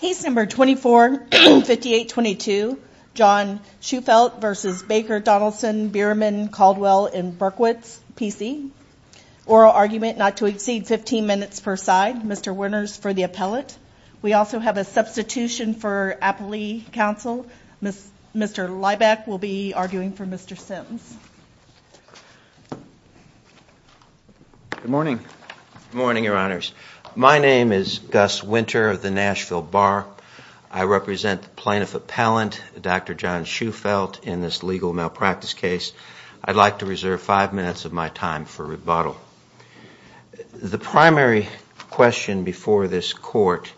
Case No. 245822, John Shufeldt v. Baker Donelson, Bierman, Caldwell & Berkowitz, P.C. Oral argument not to exceed 15 minutes per side. Mr. Winters for the appellate. We also have a substitution for appellee counsel. Mr. Leibach will be arguing for Mr. Sims. My name is Gus Winter of the Nashville Bar. I represent the plaintiff appellant, Dr. John Shufeldt, in this legal malpractice case. I'd like to reserve five minutes of my time for rebuttal. The primary question before this court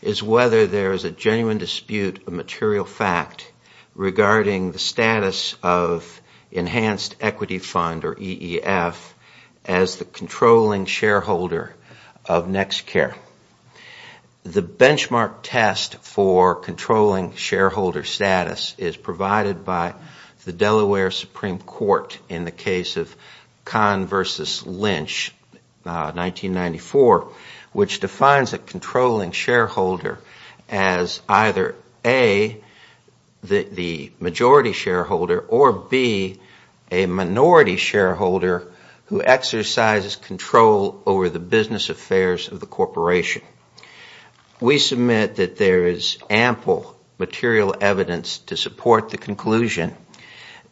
is whether there is a genuine dispute, a material fact, regarding the status of Enhanced Equity Fund, or EEF, as the controlling shareholder of NexCare. The benchmark test for controlling shareholder status is provided by the Delaware Supreme Court in the case of Kahn v. Lynch, 1994, which defines a controlling shareholder as either A, the majority shareholder, or B, a minority shareholder who exercises control over the business affairs of the corporation. We submit that there is ample material evidence to support the conclusion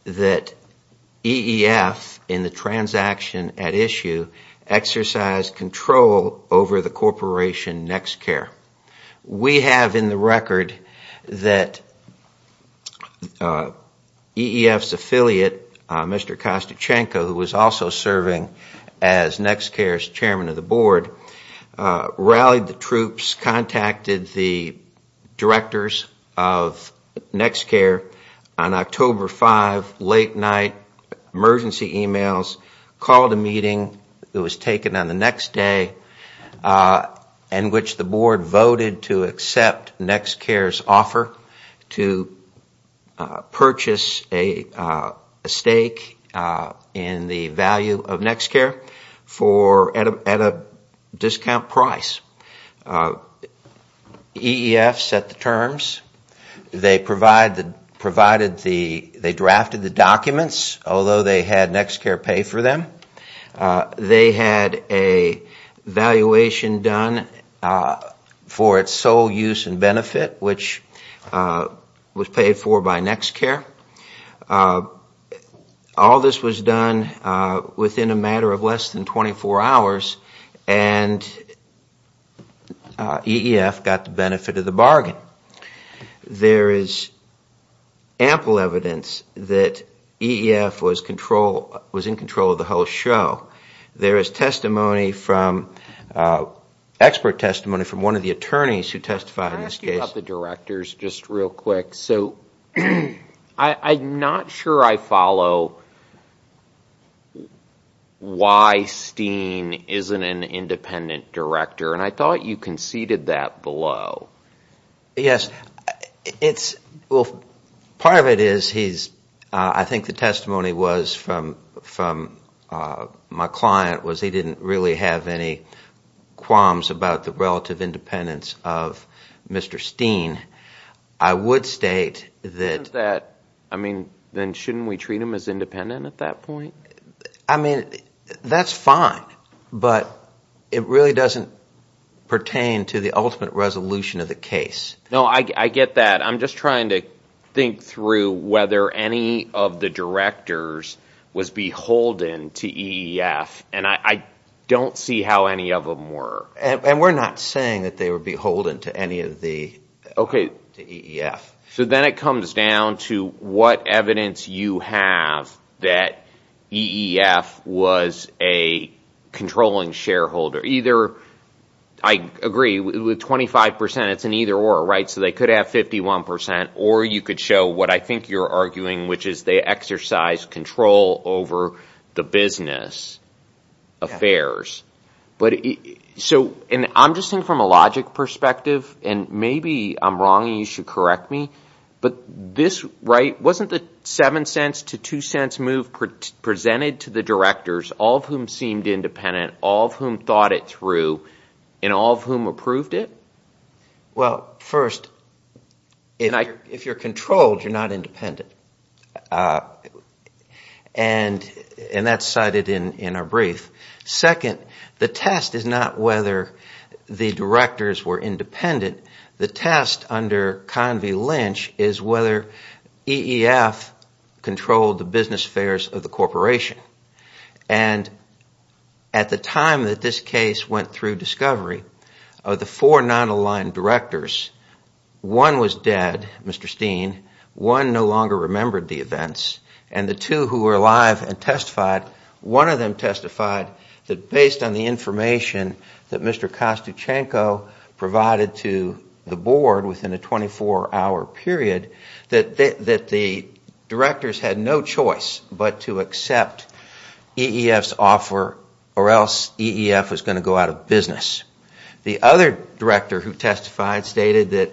that EEF, in the transaction at issue, exercised control over the corporation NexCare. We have in the record that EEF's affiliate, Mr. Kostuchenko, who was also serving as NexCare's chairman of the board, rallied the troops, contacted the directors of NexCare on October 5, late night, emergency emails, called a meeting that was taken on the next day in which the board voted to accept NexCare's offer to purchase a stake in the value of NexCare at a discount price. EEF set the terms. They drafted the documents, although they had NexCare pay for them. They had a valuation done for its sole use and benefit, which was paid for by NexCare. All this was done within a matter of less than 24 hours, and EEF got the benefit of the bargain. There is ample evidence that EEF was in control of the whole show. There is expert testimony from one of the attorneys who testified in this case. I'm not sure I follow why Steen isn't an independent director, and I thought you conceded that below. Yes. Part of it is he's – I think the testimony was from my client was he didn't really have any qualms about the relative independence of Mr. Steen. I would state that – Then shouldn't we treat him as independent at that point? I mean, that's fine, but it really doesn't pertain to the ultimate resolution of the case. No, I get that. I'm just trying to think through whether any of the directors was beholden to EEF, and I don't see how any of them were. And we're not saying that they were beholden to any of the – Okay. To EEF. So then it comes down to what evidence you have that EEF was a controlling shareholder. Either – I agree with 25%. It's an either-or, right? So they could have 51%, or you could show what I think you're arguing, which is they exercised control over the business affairs. So I'm just saying from a logic perspective, and maybe I'm wrong and you should correct me, but this – wasn't the seven cents to two cents move presented to the directors, all of whom seemed independent, all of whom thought it through, and all of whom approved it? Well, first, if you're controlled, you're not independent, and that's cited in our brief. Second, the test is not whether the directors were independent. The test under Convey-Lynch is whether EEF controlled the business affairs of the corporation. And at the time that this case went through discovery of the four non-aligned directors, one was dead, Mr. Steen. One no longer remembered the events. And the two who were alive and testified, one of them testified that based on the information that Mr. Kostuchenko provided to the board within a 24-hour period, that the directors had no choice but to accept EEF's offer or else EEF was going to go out of business. The other director who testified stated that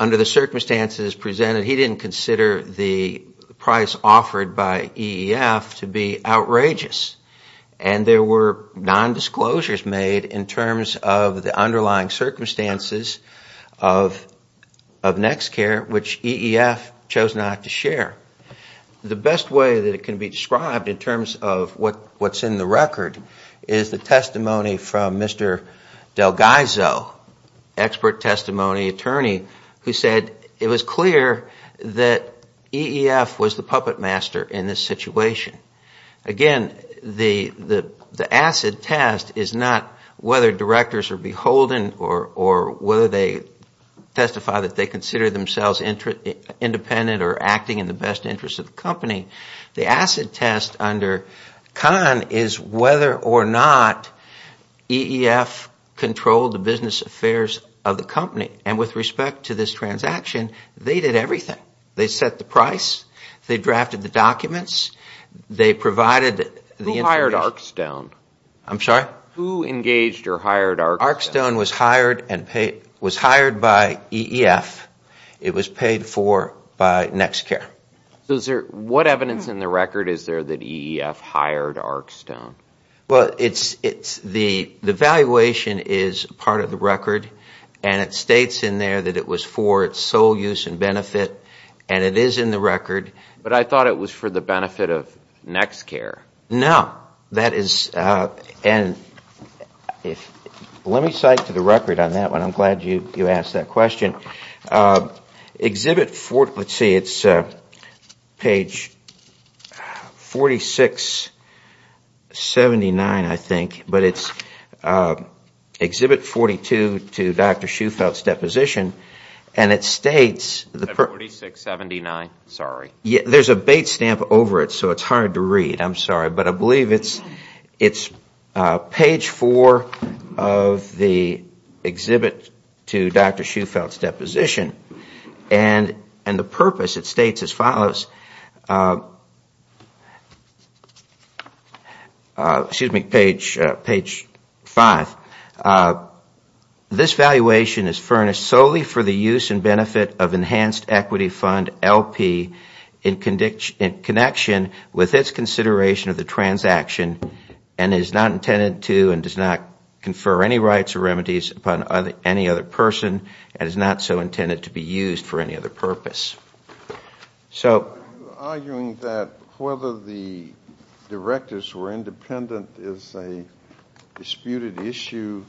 under the circumstances presented, he didn't consider the price offered by EEF to be outrageous. And there were nondisclosures made in terms of the underlying circumstances of NexCare, which EEF chose not to share. The best way that it can be described in terms of what's in the record is the testimony from Mr. DelGaizzo, expert testimony attorney, who said it was clear that EEF was the puppet master in this situation. Again, the acid test is not whether directors are beholden or whether they testify that they consider themselves independent or acting in the best interest of the company. The acid test under Kahn is whether or not EEF controlled the business affairs of the company. And with respect to this transaction, they did everything. They set the price. They drafted the documents. They provided the information. Who hired ArcStone? I'm sorry? Who engaged or hired ArcStone? ArcStone was hired by EEF. It was paid for by NexCare. So what evidence in the record is there that EEF hired ArcStone? The valuation is part of the record. And it states in there that it was for its sole use and benefit. And it is in the record. But I thought it was for the benefit of NexCare. No. Let me cite to the record on that one. I'm glad you asked that question. Exhibit 4. Let's see. It's page 4679, I think. But it's Exhibit 42 to Dr. Schufelt's deposition. And it states... 4679. Sorry. There's a bait stamp over it. So it's hard to read. I'm sorry. But I believe it's page 4 of the exhibit to Dr. Schufelt's deposition. And the purpose, it states as follows. Excuse me. Page 5. This valuation is furnished solely for the use and benefit of Enhanced Equity Fund LP in connection with its consideration of the transaction and is not intended to and does not confer any rights or remedies upon any other person and is not so intended to be used for any other purpose. So... Are you arguing that whether the directors were independent is a disputed issue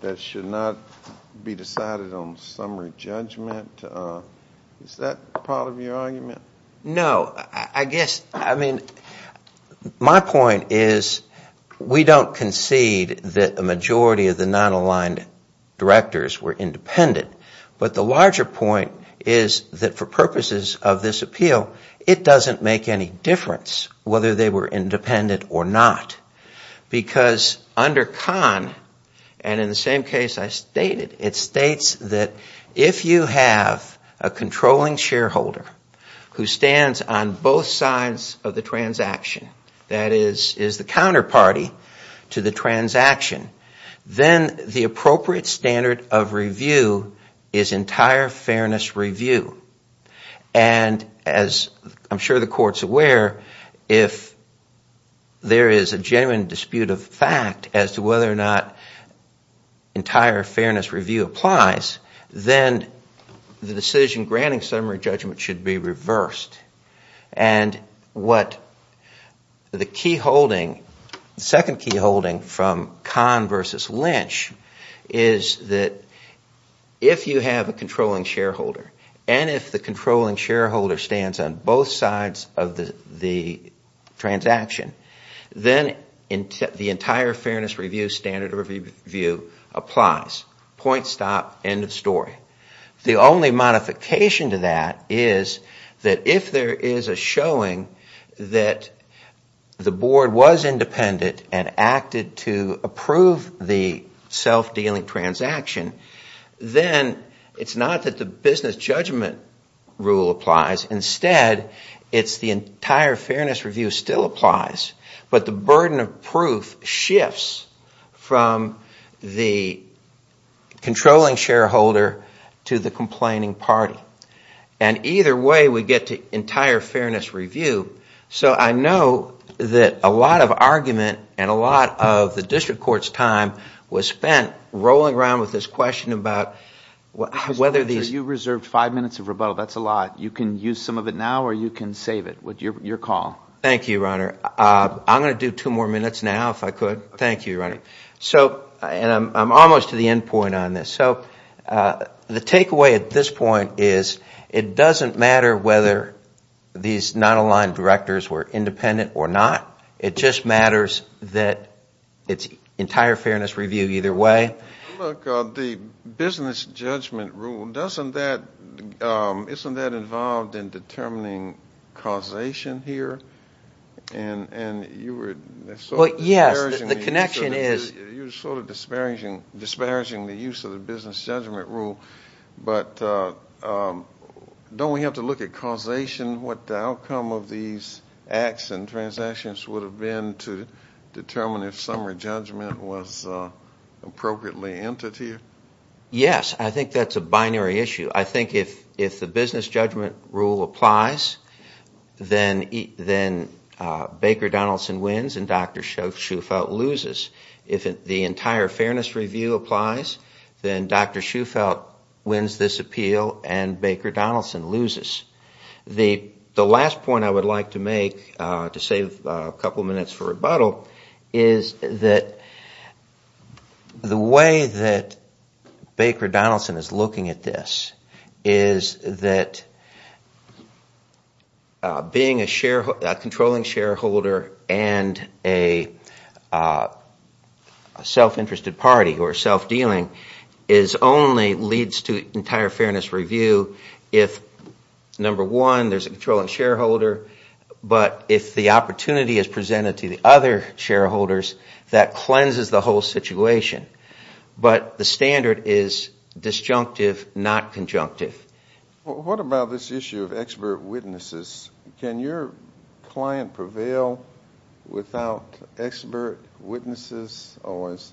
that should not be decided on summary judgment? Is that part of your argument? I guess, I mean, my point is we don't concede that a majority of the non-aligned directors were independent. But the larger point is that for purposes of this appeal, it doesn't make any difference whether they were independent or not. Because under Kahn, and in the same case I stated, it states that if you have a controlling shareholder who stands on both sides of the transaction, that is, is the counterparty to the transaction, then the appropriate standard of review is entire fairness review. And as I'm sure the Court's aware, if there is a genuine dispute of fact as to whether or not entire fairness review applies, then the decision granting summary judgment should be reversed. And what the key holding, the second key holding from Kahn versus Lynch, is that if you have a controlling shareholder, and if the controlling shareholder stands on both sides of the transaction, then the entire fairness review standard of review applies. Point stop, end of story. The only modification to that is that if there is a showing that the board was independent and acted to approve the self-dealing transaction, then it's not that the business judgment rule applies. Instead, it's the entire fairness review still applies, but the burden of proof shifts from the controlling shareholder to the complaining party. And either way, we get to entire fairness review. So I know that a lot of argument and a lot of the District Court's time was spent rolling around with this question about whether these... You reserved five minutes of rebuttal. That's a lot. You can use some of it now, or you can save it with your call. Thank you, Your Honor. I'm going to do two more minutes now, if I could. Thank you, Your Honor. And I'm almost to the end point on this. So the takeaway at this point is it doesn't matter whether these non-aligned directors were independent or not. It just matters that it's entire fairness review either way. Look, the business judgment rule, isn't that involved in determining causation here? And you were sort of disparaging the use of the business judgment rule. But don't we have to look at causation, what the outcome of these acts and transactions would have been to determine if summary judgment was appropriately entered here? Yes, I think that's a binary issue. I think if the business judgment rule applies, then Baker Donaldson wins and Dr. Schufelt loses. If the entire fairness review applies, then Dr. Schufelt wins this appeal and Baker Donaldson loses. The last point I would like to make, to save a couple minutes for rebuttal, is that the way that Baker Donaldson is looking at this is that being a controlling shareholder and a self-interested party or self-dealing only leads to entire fairness review if number one, there's a controlling shareholder, but if the opportunity is presented to the other shareholders, that cleanses the whole situation. But the standard is disjunctive, not conjunctive. What about this issue of expert witnesses? Can your client prevail without expert witnesses or is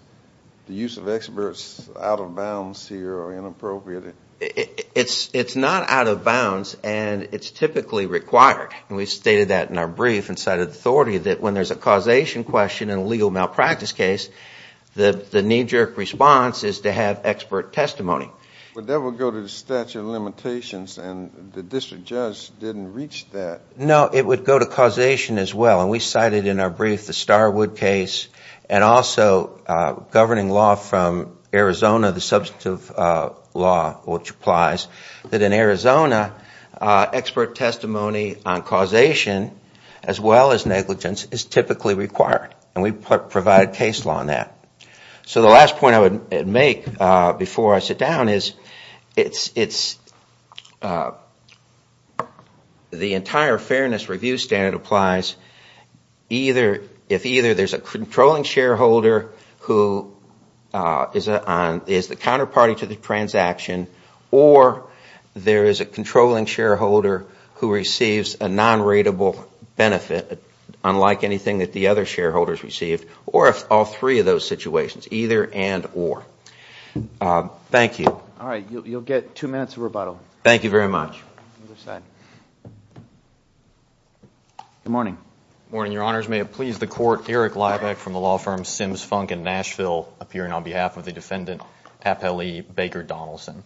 the use of experts out of bounds here or inappropriate? It's not out of bounds and it's typically required. We've stated that in our brief inside of the authority that when there's a causation question in a legal malpractice case, the knee-jerk response is to have expert testimony. But that would go to the statute of limitations and the district judge didn't reach that. No, it would go to causation as well and we cited in our brief the Starwood case and also governing law from Arizona, the substantive law which applies, that in Arizona, expert testimony on causation as well as negligence is typically required and we provide case law on that. The last point I would make before I sit down is the entire fairness review standard applies if either there's a controlling shareholder who is the counterparty to the transaction or there is a controlling shareholder who receives a non-rateable benefit unlike anything that the other shareholders received or if all three of those situations, either and or. Thank you. All right. You'll get two minutes of rebuttal. Thank you very much. Other side. Good morning. Good morning, Your Honors. May it please the Court, Eric Leibach from the law firm Sims Funk in Nashville appearing on behalf of the defendant, Appellee Baker Donaldson.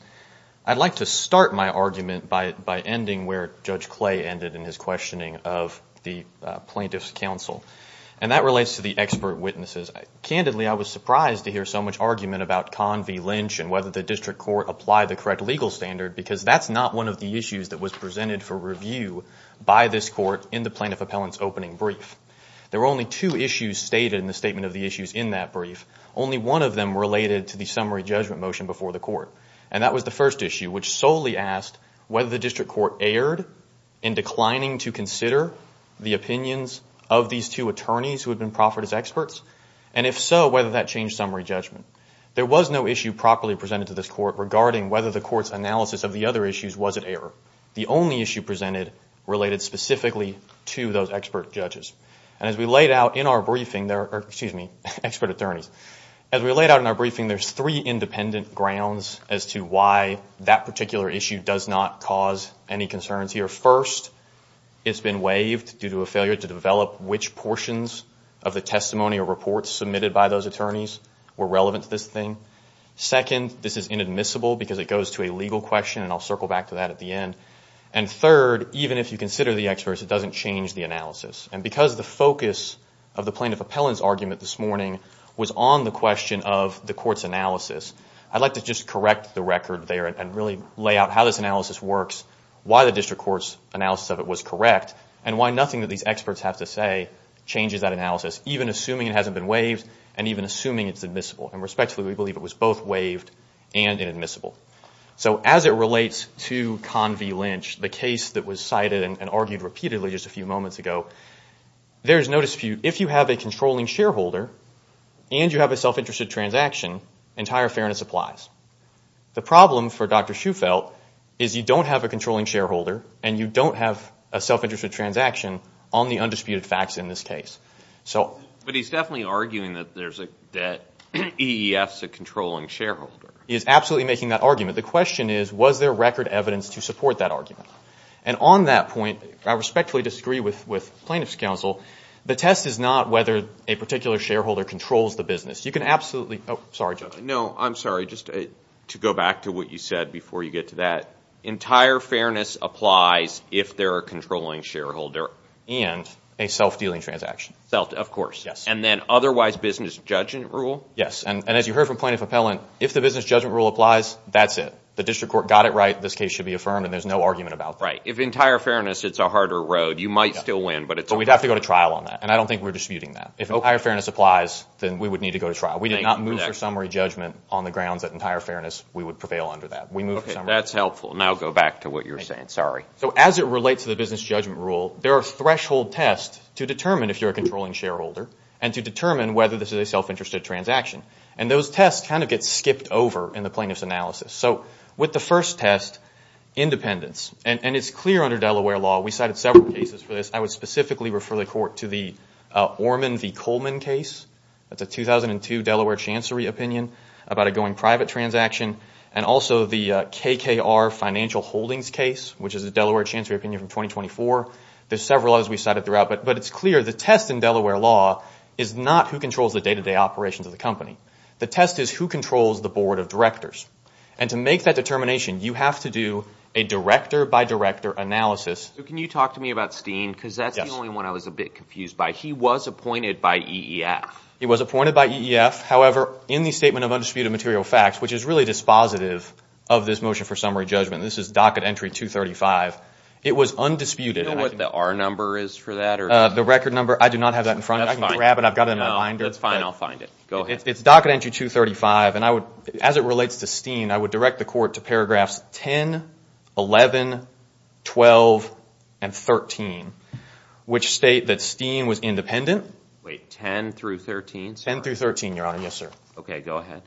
I'd like to start my argument by ending where Judge Clay ended in his questioning of the plaintiff's counsel and that relates to the expert witnesses. Candidly, I was surprised to hear so much argument about Conn v. Lynch and whether the district court applied the correct legal standard because that's not one of the issues that was presented for review by this court in the plaintiff appellant's opening brief. There were only two issues stated in the statement of the issues in that brief. Only one of them related to the summary judgment motion before the court and that was the first issue which solely asked whether the district court erred in declining to consider the opinions of these two attorneys who had been profited as experts and if so, whether that changed summary judgment. There was no issue properly presented to this court regarding whether the court's analysis of the other issues was at error. The only issue presented related specifically to those expert judges. As we laid out in our briefing, there are three independent grounds as to why that particular issue does not cause any concerns here. First, it's been waived due to a failure to develop which portions of the testimony or reports submitted by those attorneys were relevant to this thing. Second, this is inadmissible because it goes to a legal question and I'll circle back to that at the end. Third, even if you consider the experts, it doesn't change the analysis. And because the focus of the plaintiff appellant's argument this morning was on the question of the court's analysis, I'd like to just correct the record there and really lay out how this analysis works, why the district court's analysis of it was correct, and why nothing that these experts have to say changes that analysis, even assuming it hasn't been waived and even assuming it's admissible. And respectfully, we believe it was both waived and inadmissible. So as it relates to Convie-Lynch, the case that was cited and argued repeatedly just a few moments ago, there's no dispute if you have a controlling shareholder and you have a self-interested transaction, entire fairness applies. The problem for Dr. Shufelt is you don't have a controlling shareholder and you don't have a self-interested transaction on the undisputed facts in this case. But he's definitely arguing that EEF's a controlling shareholder. He is absolutely making that argument. The question is, was there record evidence to support that argument? And on that point, I respectfully disagree with plaintiff's counsel. The test is not whether a particular shareholder controls the business. You can absolutely – oh, sorry, Judge. No, I'm sorry. Just to go back to what you said before you get to that, entire fairness applies if they're a controlling shareholder. And a self-dealing transaction. Of course. Yes. And then otherwise business judgment rule? Yes. And as you heard from plaintiff appellant, if the business judgment rule applies, that's it. The district court got it right. This case should be affirmed and there's no argument about that. Right. If entire fairness, it's a harder road. You might still win, but it's a harder road. But we'd have to go to trial on that, and I don't think we're disputing that. If entire fairness applies, then we would need to go to trial. We did not move for summary judgment on the grounds that entire fairness, we would prevail under that. We moved for summary. Okay, that's helpful. Now go back to what you were saying. Sorry. So as it relates to the business judgment rule, there are threshold tests to determine if you're a controlling shareholder and to determine whether this is a self-interested transaction. And those tests kind of get skipped over in the plaintiff's analysis. So with the first test, independence, and it's clear under Delaware law, we cited several cases for this. I would specifically refer the court to the Orman v. Coleman case. That's a 2002 Delaware chancery opinion about a going private transaction, and also the KKR financial holdings case, which is a Delaware chancery opinion from 2024. There's several others we cited throughout. But it's clear the test in Delaware law is not who controls the day-to-day operations of the company. The test is who controls the board of directors. And to make that determination, you have to do a director-by-director analysis. Can you talk to me about Steen? Because that's the only one I was a bit confused by. He was appointed by EEF. He was appointed by EEF. However, in the statement of undisputed material facts, which is really dispositive of this motion for summary judgment, and this is docket entry 235, it was undisputed. Do you know what the R number is for that? The record number? I do not have that in front of me. I can grab it. I've got it in my binder. That's fine. I'll find it. Go ahead. It's docket entry 235, and as it relates to Steen, I would direct the court to paragraphs 10, 11, 12, and 13, which state that Steen was independent. Wait. 10 through 13? 10 through 13, Your Honor. Yes, sir. Okay. Go ahead.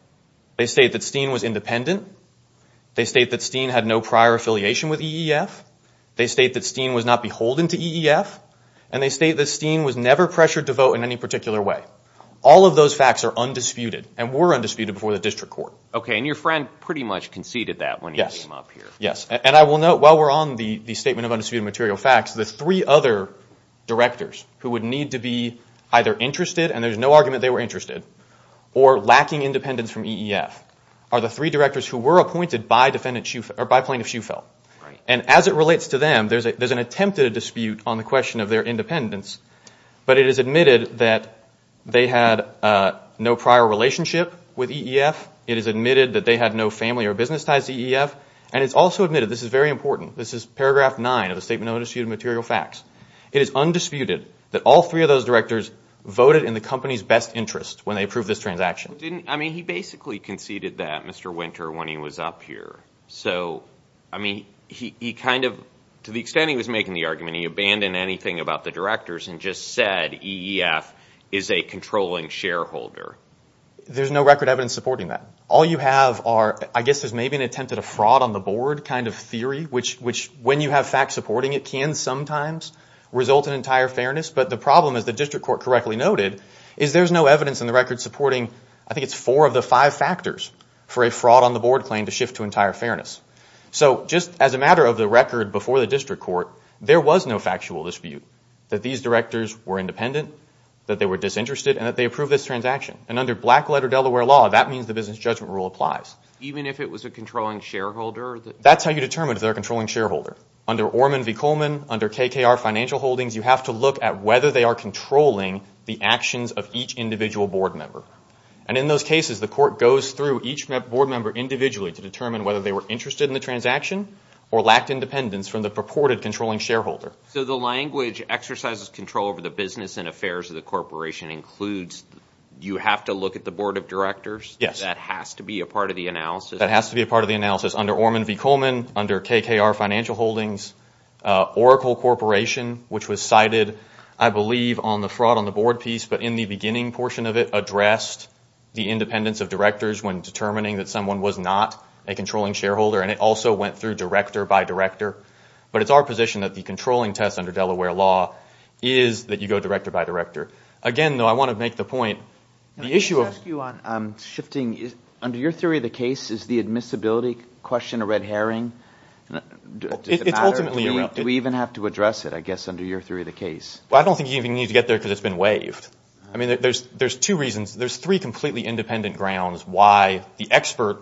They state that Steen was independent. They state that Steen had no prior affiliation with EEF. They state that Steen was not beholden to EEF, and they state that Steen was never pressured to vote in any particular way. All of those facts are undisputed and were undisputed before the district court. Okay, and your friend pretty much conceded that when he came up here. And I will note, while we're on the statement of undisputed material facts, the three other directors who would need to be either interested, and there's no argument they were interested, or lacking independence from EEF are the three directors who were appointed by plaintiff Shufelt. Right. And as it relates to them, there's an attempt at a dispute on the question of their independence, but it is admitted that they had no prior relationship with EEF. It is admitted that they had no family or business ties to EEF, and it's also admitted, this is very important, this is paragraph 9 of the statement of undisputed material facts, it is undisputed that all three of those directors voted in the company's best interest when they approved this transaction. I mean, he basically conceded that, Mr. Winter, when he was up here. So, I mean, he kind of, to the extent he was making the argument, he abandoned anything about the directors and just said EEF is a controlling shareholder. There's no record evidence supporting that. All you have are, I guess, there's maybe an attempt at a fraud on the board kind of theory, which, when you have fact supporting, it can sometimes result in entire fairness. But the problem, as the district court correctly noted, is there's no evidence in the record supporting, I think it's four of the five factors for a fraud on the board claim to shift to entire fairness. So, just as a matter of the record before the district court, there was no factual dispute that these directors were independent, that they were disinterested, and that they approved this transaction. And under black-letter Delaware law, that means the business judgment rule applies. Even if it was a controlling shareholder? That's how you determine if they're a controlling shareholder. Under Orman v. Coleman, under KKR Financial Holdings, you have to look at whether they are controlling the actions of each individual board member. And in those cases, the court goes through each board member individually to determine whether they were interested in the transaction or lacked independence from the purported controlling shareholder. So, the language exercises control over the business and affairs of the corporation includes you have to look at the board of directors? Yes. That has to be a part of the analysis? That has to be a part of the analysis. Under Orman v. Coleman, under KKR Financial Holdings, Oracle Corporation, which was cited, I believe, on the fraud on the board piece, but in the beginning portion of it, addressed the independence of directors when determining that someone was not a controlling shareholder. And it also went through director by director. But it's our position that the controlling test under Delaware law is that you go director by director. Again, though, I want to make the point, the issue of... Let me just ask you on shifting. Under your theory of the case, is the admissibility question a red herring? It's ultimately a red herring. Do we even have to address it, I guess, under your theory of the case? Well, I don't think you even need to get there because it's been waived. I mean, there's two reasons. There's three completely independent grounds why the expert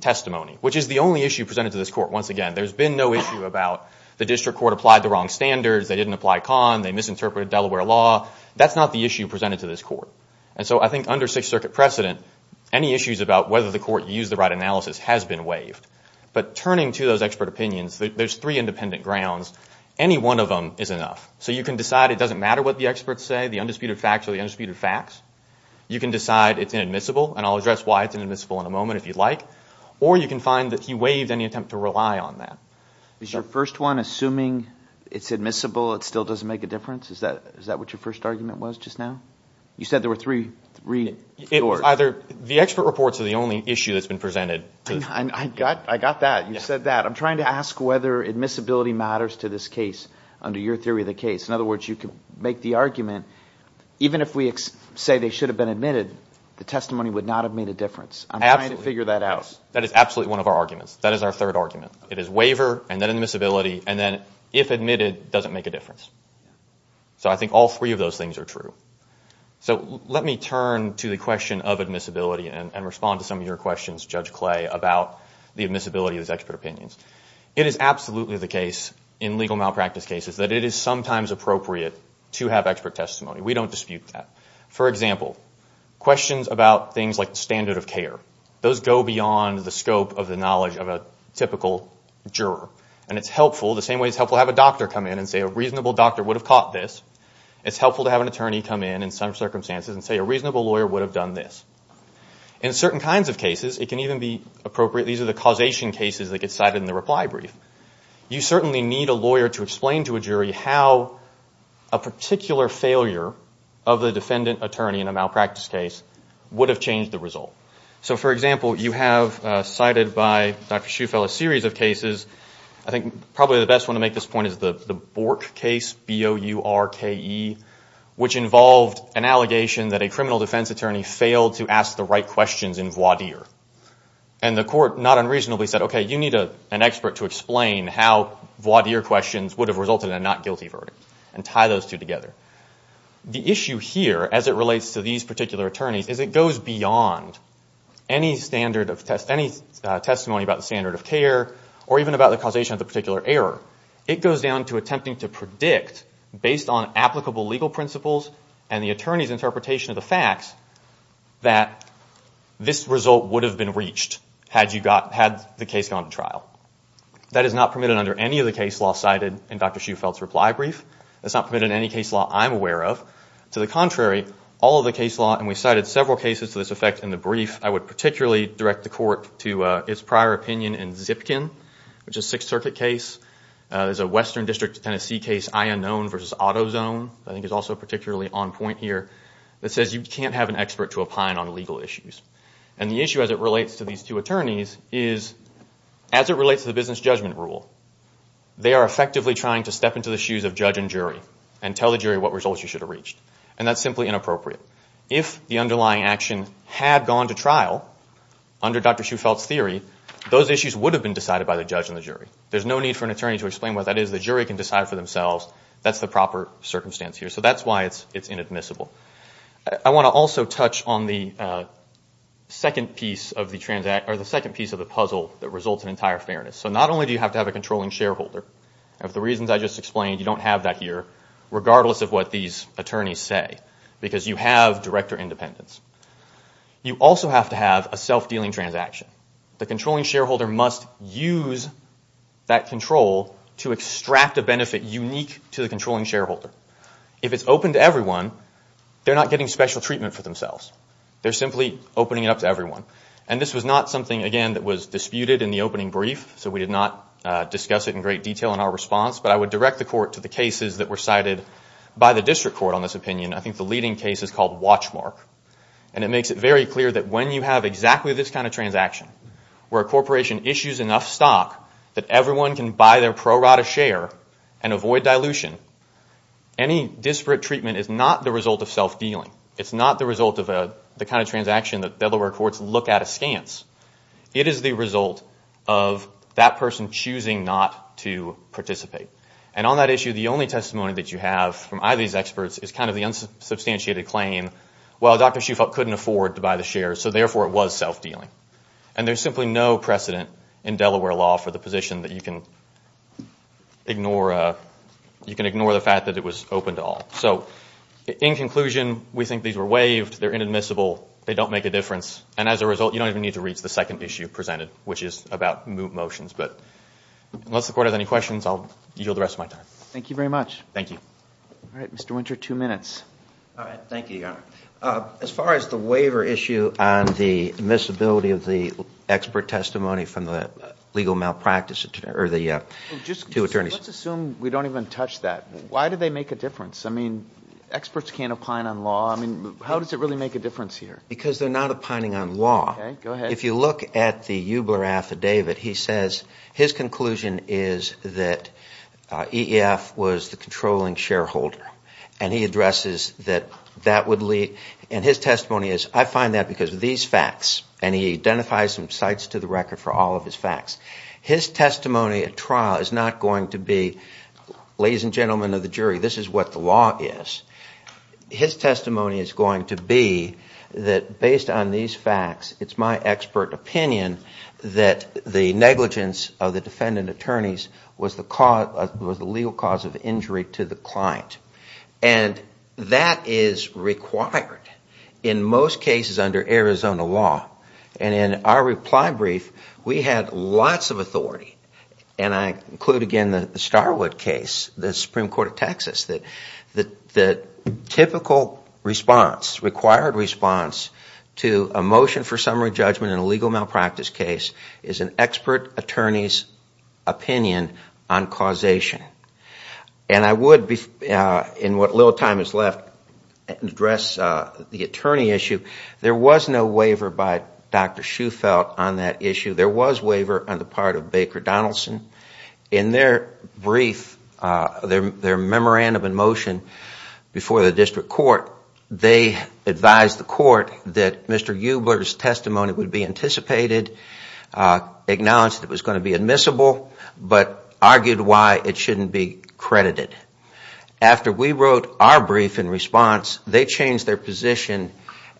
testimony, which is the only issue presented to this court, once again. There's been no issue about the district court applied the wrong standards, they didn't apply CON, they misinterpreted Delaware law. That's not the issue presented to this court. And so I think under Sixth Circuit precedent, any issues about whether the court used the right analysis has been waived. But turning to those expert opinions, there's three independent grounds. Any one of them is enough. So you can decide it doesn't matter what the experts say, the undisputed facts are the undisputed facts. You can decide it's inadmissible, and I'll address why it's inadmissible in a moment if you'd like. Or you can find that he waived any attempt to rely on that. Is your first one, assuming it's admissible, it still doesn't make a difference? Is that what your first argument was just now? You said there were three doors. The expert reports are the only issue that's been presented. I got that. You said that. I'm trying to ask whether admissibility matters to this case under your theory of the case. In other words, you can make the argument, even if we say they should have been admitted, the testimony would not have made a difference. I'm trying to figure that out. That is absolutely one of our arguments. That is our third argument. It is waiver and then admissibility, and then if admitted, does it make a difference? So I think all three of those things are true. So let me turn to the question of admissibility and respond to some of your questions, Judge Clay, about the admissibility of those expert opinions. It is absolutely the case in legal malpractice cases that it is sometimes appropriate to have expert testimony. We don't dispute that. For example, questions about things like standard of care, those go beyond the scope of the knowledge of a typical juror. And it's helpful, the same way it's helpful to have a doctor come in and say a reasonable doctor would have caught this. It's helpful to have an attorney come in in some circumstances and say a reasonable lawyer would have done this. In certain kinds of cases, it can even be appropriate, these are the causation cases that get cited in the reply brief. You certainly need a lawyer to explain to a jury how a particular failure of the defendant attorney in a malpractice case would have changed the result. So, for example, you have cited by Dr. Schufel a series of cases, I think probably the best one to make this point is the Bork case, B-O-U-R-K-E, which involved an allegation that a criminal defense attorney failed to ask the right questions in voir dire. And the court, not unreasonably, said, okay, you need an expert to explain how voir dire questions would have resulted in a not guilty verdict, and tie those two together. The issue here, as it relates to these particular attorneys, is it goes beyond any testimony about the standard of care or even about the causation of the particular error. It goes down to attempting to predict, based on applicable legal principles and the attorney's interpretation of the facts, that this result would have been reached had the case gone to trial. That is not permitted under any of the case law cited in Dr. Schufel's reply brief. That's not permitted in any case law I'm aware of. To the contrary, all of the case law, and we cited several cases to this effect in the brief, I would particularly direct the court to its prior opinion in Zipkin, which is a Sixth Circuit case. There's a Western District, Tennessee case, I-Unknown versus AutoZone, I think is also particularly on point here, that says you can't have an expert to opine on legal issues. And the issue, as it relates to these two attorneys, is, as it relates to the business judgment rule, they are effectively trying to step into the shoes of judge and jury and tell the jury what results you should have reached. And that's simply inappropriate. If the underlying action had gone to trial, under Dr. Schufel's theory, those issues would have been decided by the judge and the jury. There's no need for an attorney to explain what that is. The jury can decide for themselves. That's the proper circumstance here. So that's why it's inadmissible. I want to also touch on the second piece of the puzzle that results in entire fairness. So not only do you have to have a controlling shareholder, of the reasons I just explained, you don't have that here, regardless of what these attorneys say, because you have director independence. You also have to have a self-dealing transaction. The controlling shareholder must use that control to extract a benefit unique to the controlling shareholder. If it's open to everyone, they're not getting special treatment for themselves. They're simply opening it up to everyone. And this was not something, again, that was disputed in the opening brief, so we did not discuss it in great detail in our response, but I would direct the court to the cases that were cited by the district court on this opinion. I think the leading case is called Watchmark. And it makes it very clear that when you have exactly this kind of transaction, where a corporation issues enough stock that everyone can buy their pro rata share and avoid dilution, any disparate treatment is not the result of self-dealing. It's not the result of the kind of transaction that Delaware courts look at askance. It is the result of that person choosing not to participate. And on that issue, the only testimony that you have from either of these experts is kind of the unsubstantiated claim, well, Dr. Shufelt couldn't afford to buy the share, so therefore it was self-dealing. And there's simply no precedent in Delaware law for the position that you can ignore the fact that it was open to all. So in conclusion, we think these were waived, they're inadmissible, they don't make a difference, and as a result, you don't even need to reach the second issue presented, which is about moot motions. But unless the court has any questions, I'll yield the rest of my time. Thank you very much. Thank you. All right, Mr. Winter, two minutes. All right, thank you, Your Honor. As far as the waiver issue and the admissibility of the expert testimony from the legal malpractice, or the two attorneys... Let's assume we don't even touch that. Why do they make a difference? I mean, experts can't opine on law. I mean, how does it really make a difference here? Because they're not opining on law. Okay, go ahead. If you look at the Eubler affidavit, he says his conclusion is that EEF was the controlling shareholder, and he addresses that that would lead... And his testimony is, I find that because of these facts, and he identifies some sites to the record for all of his facts. His testimony at trial is not going to be, ladies and gentlemen of the jury, this is what the law is. His testimony is going to be that, based on these facts, it's my expert opinion that the negligence of the defendant attorneys was the legal cause of injury to the client. And that is required, in most cases under Arizona law. And in our reply brief, we had lots of authority. And I include again the Starwood case, the Supreme Court of Texas, that the typical response, required response, to a motion for summary judgment in a legal malpractice case is an expert attorney's opinion on causation. And I would, in what little time is left, address the attorney issue. There was no waiver by Dr. Shufelt on that issue. There was waiver on the part of Baker Donaldson. In their brief, their memorandum in motion before the district court, they advised the court that Mr. Hubler's testimony would be anticipated, acknowledged it was going to be admissible, but argued why it shouldn't be credited. After we wrote our brief in response, they changed their position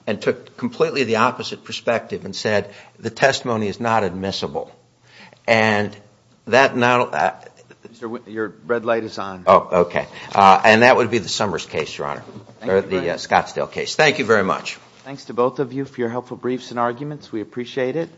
and took completely the opposite perspective and said the testimony is not admissible. And that now... Your red light is on. Okay. And that would be the Summers case, Your Honor, or the Scottsdale case. Thank you very much. Thanks to both of you for your helpful briefs and arguments. We appreciate it.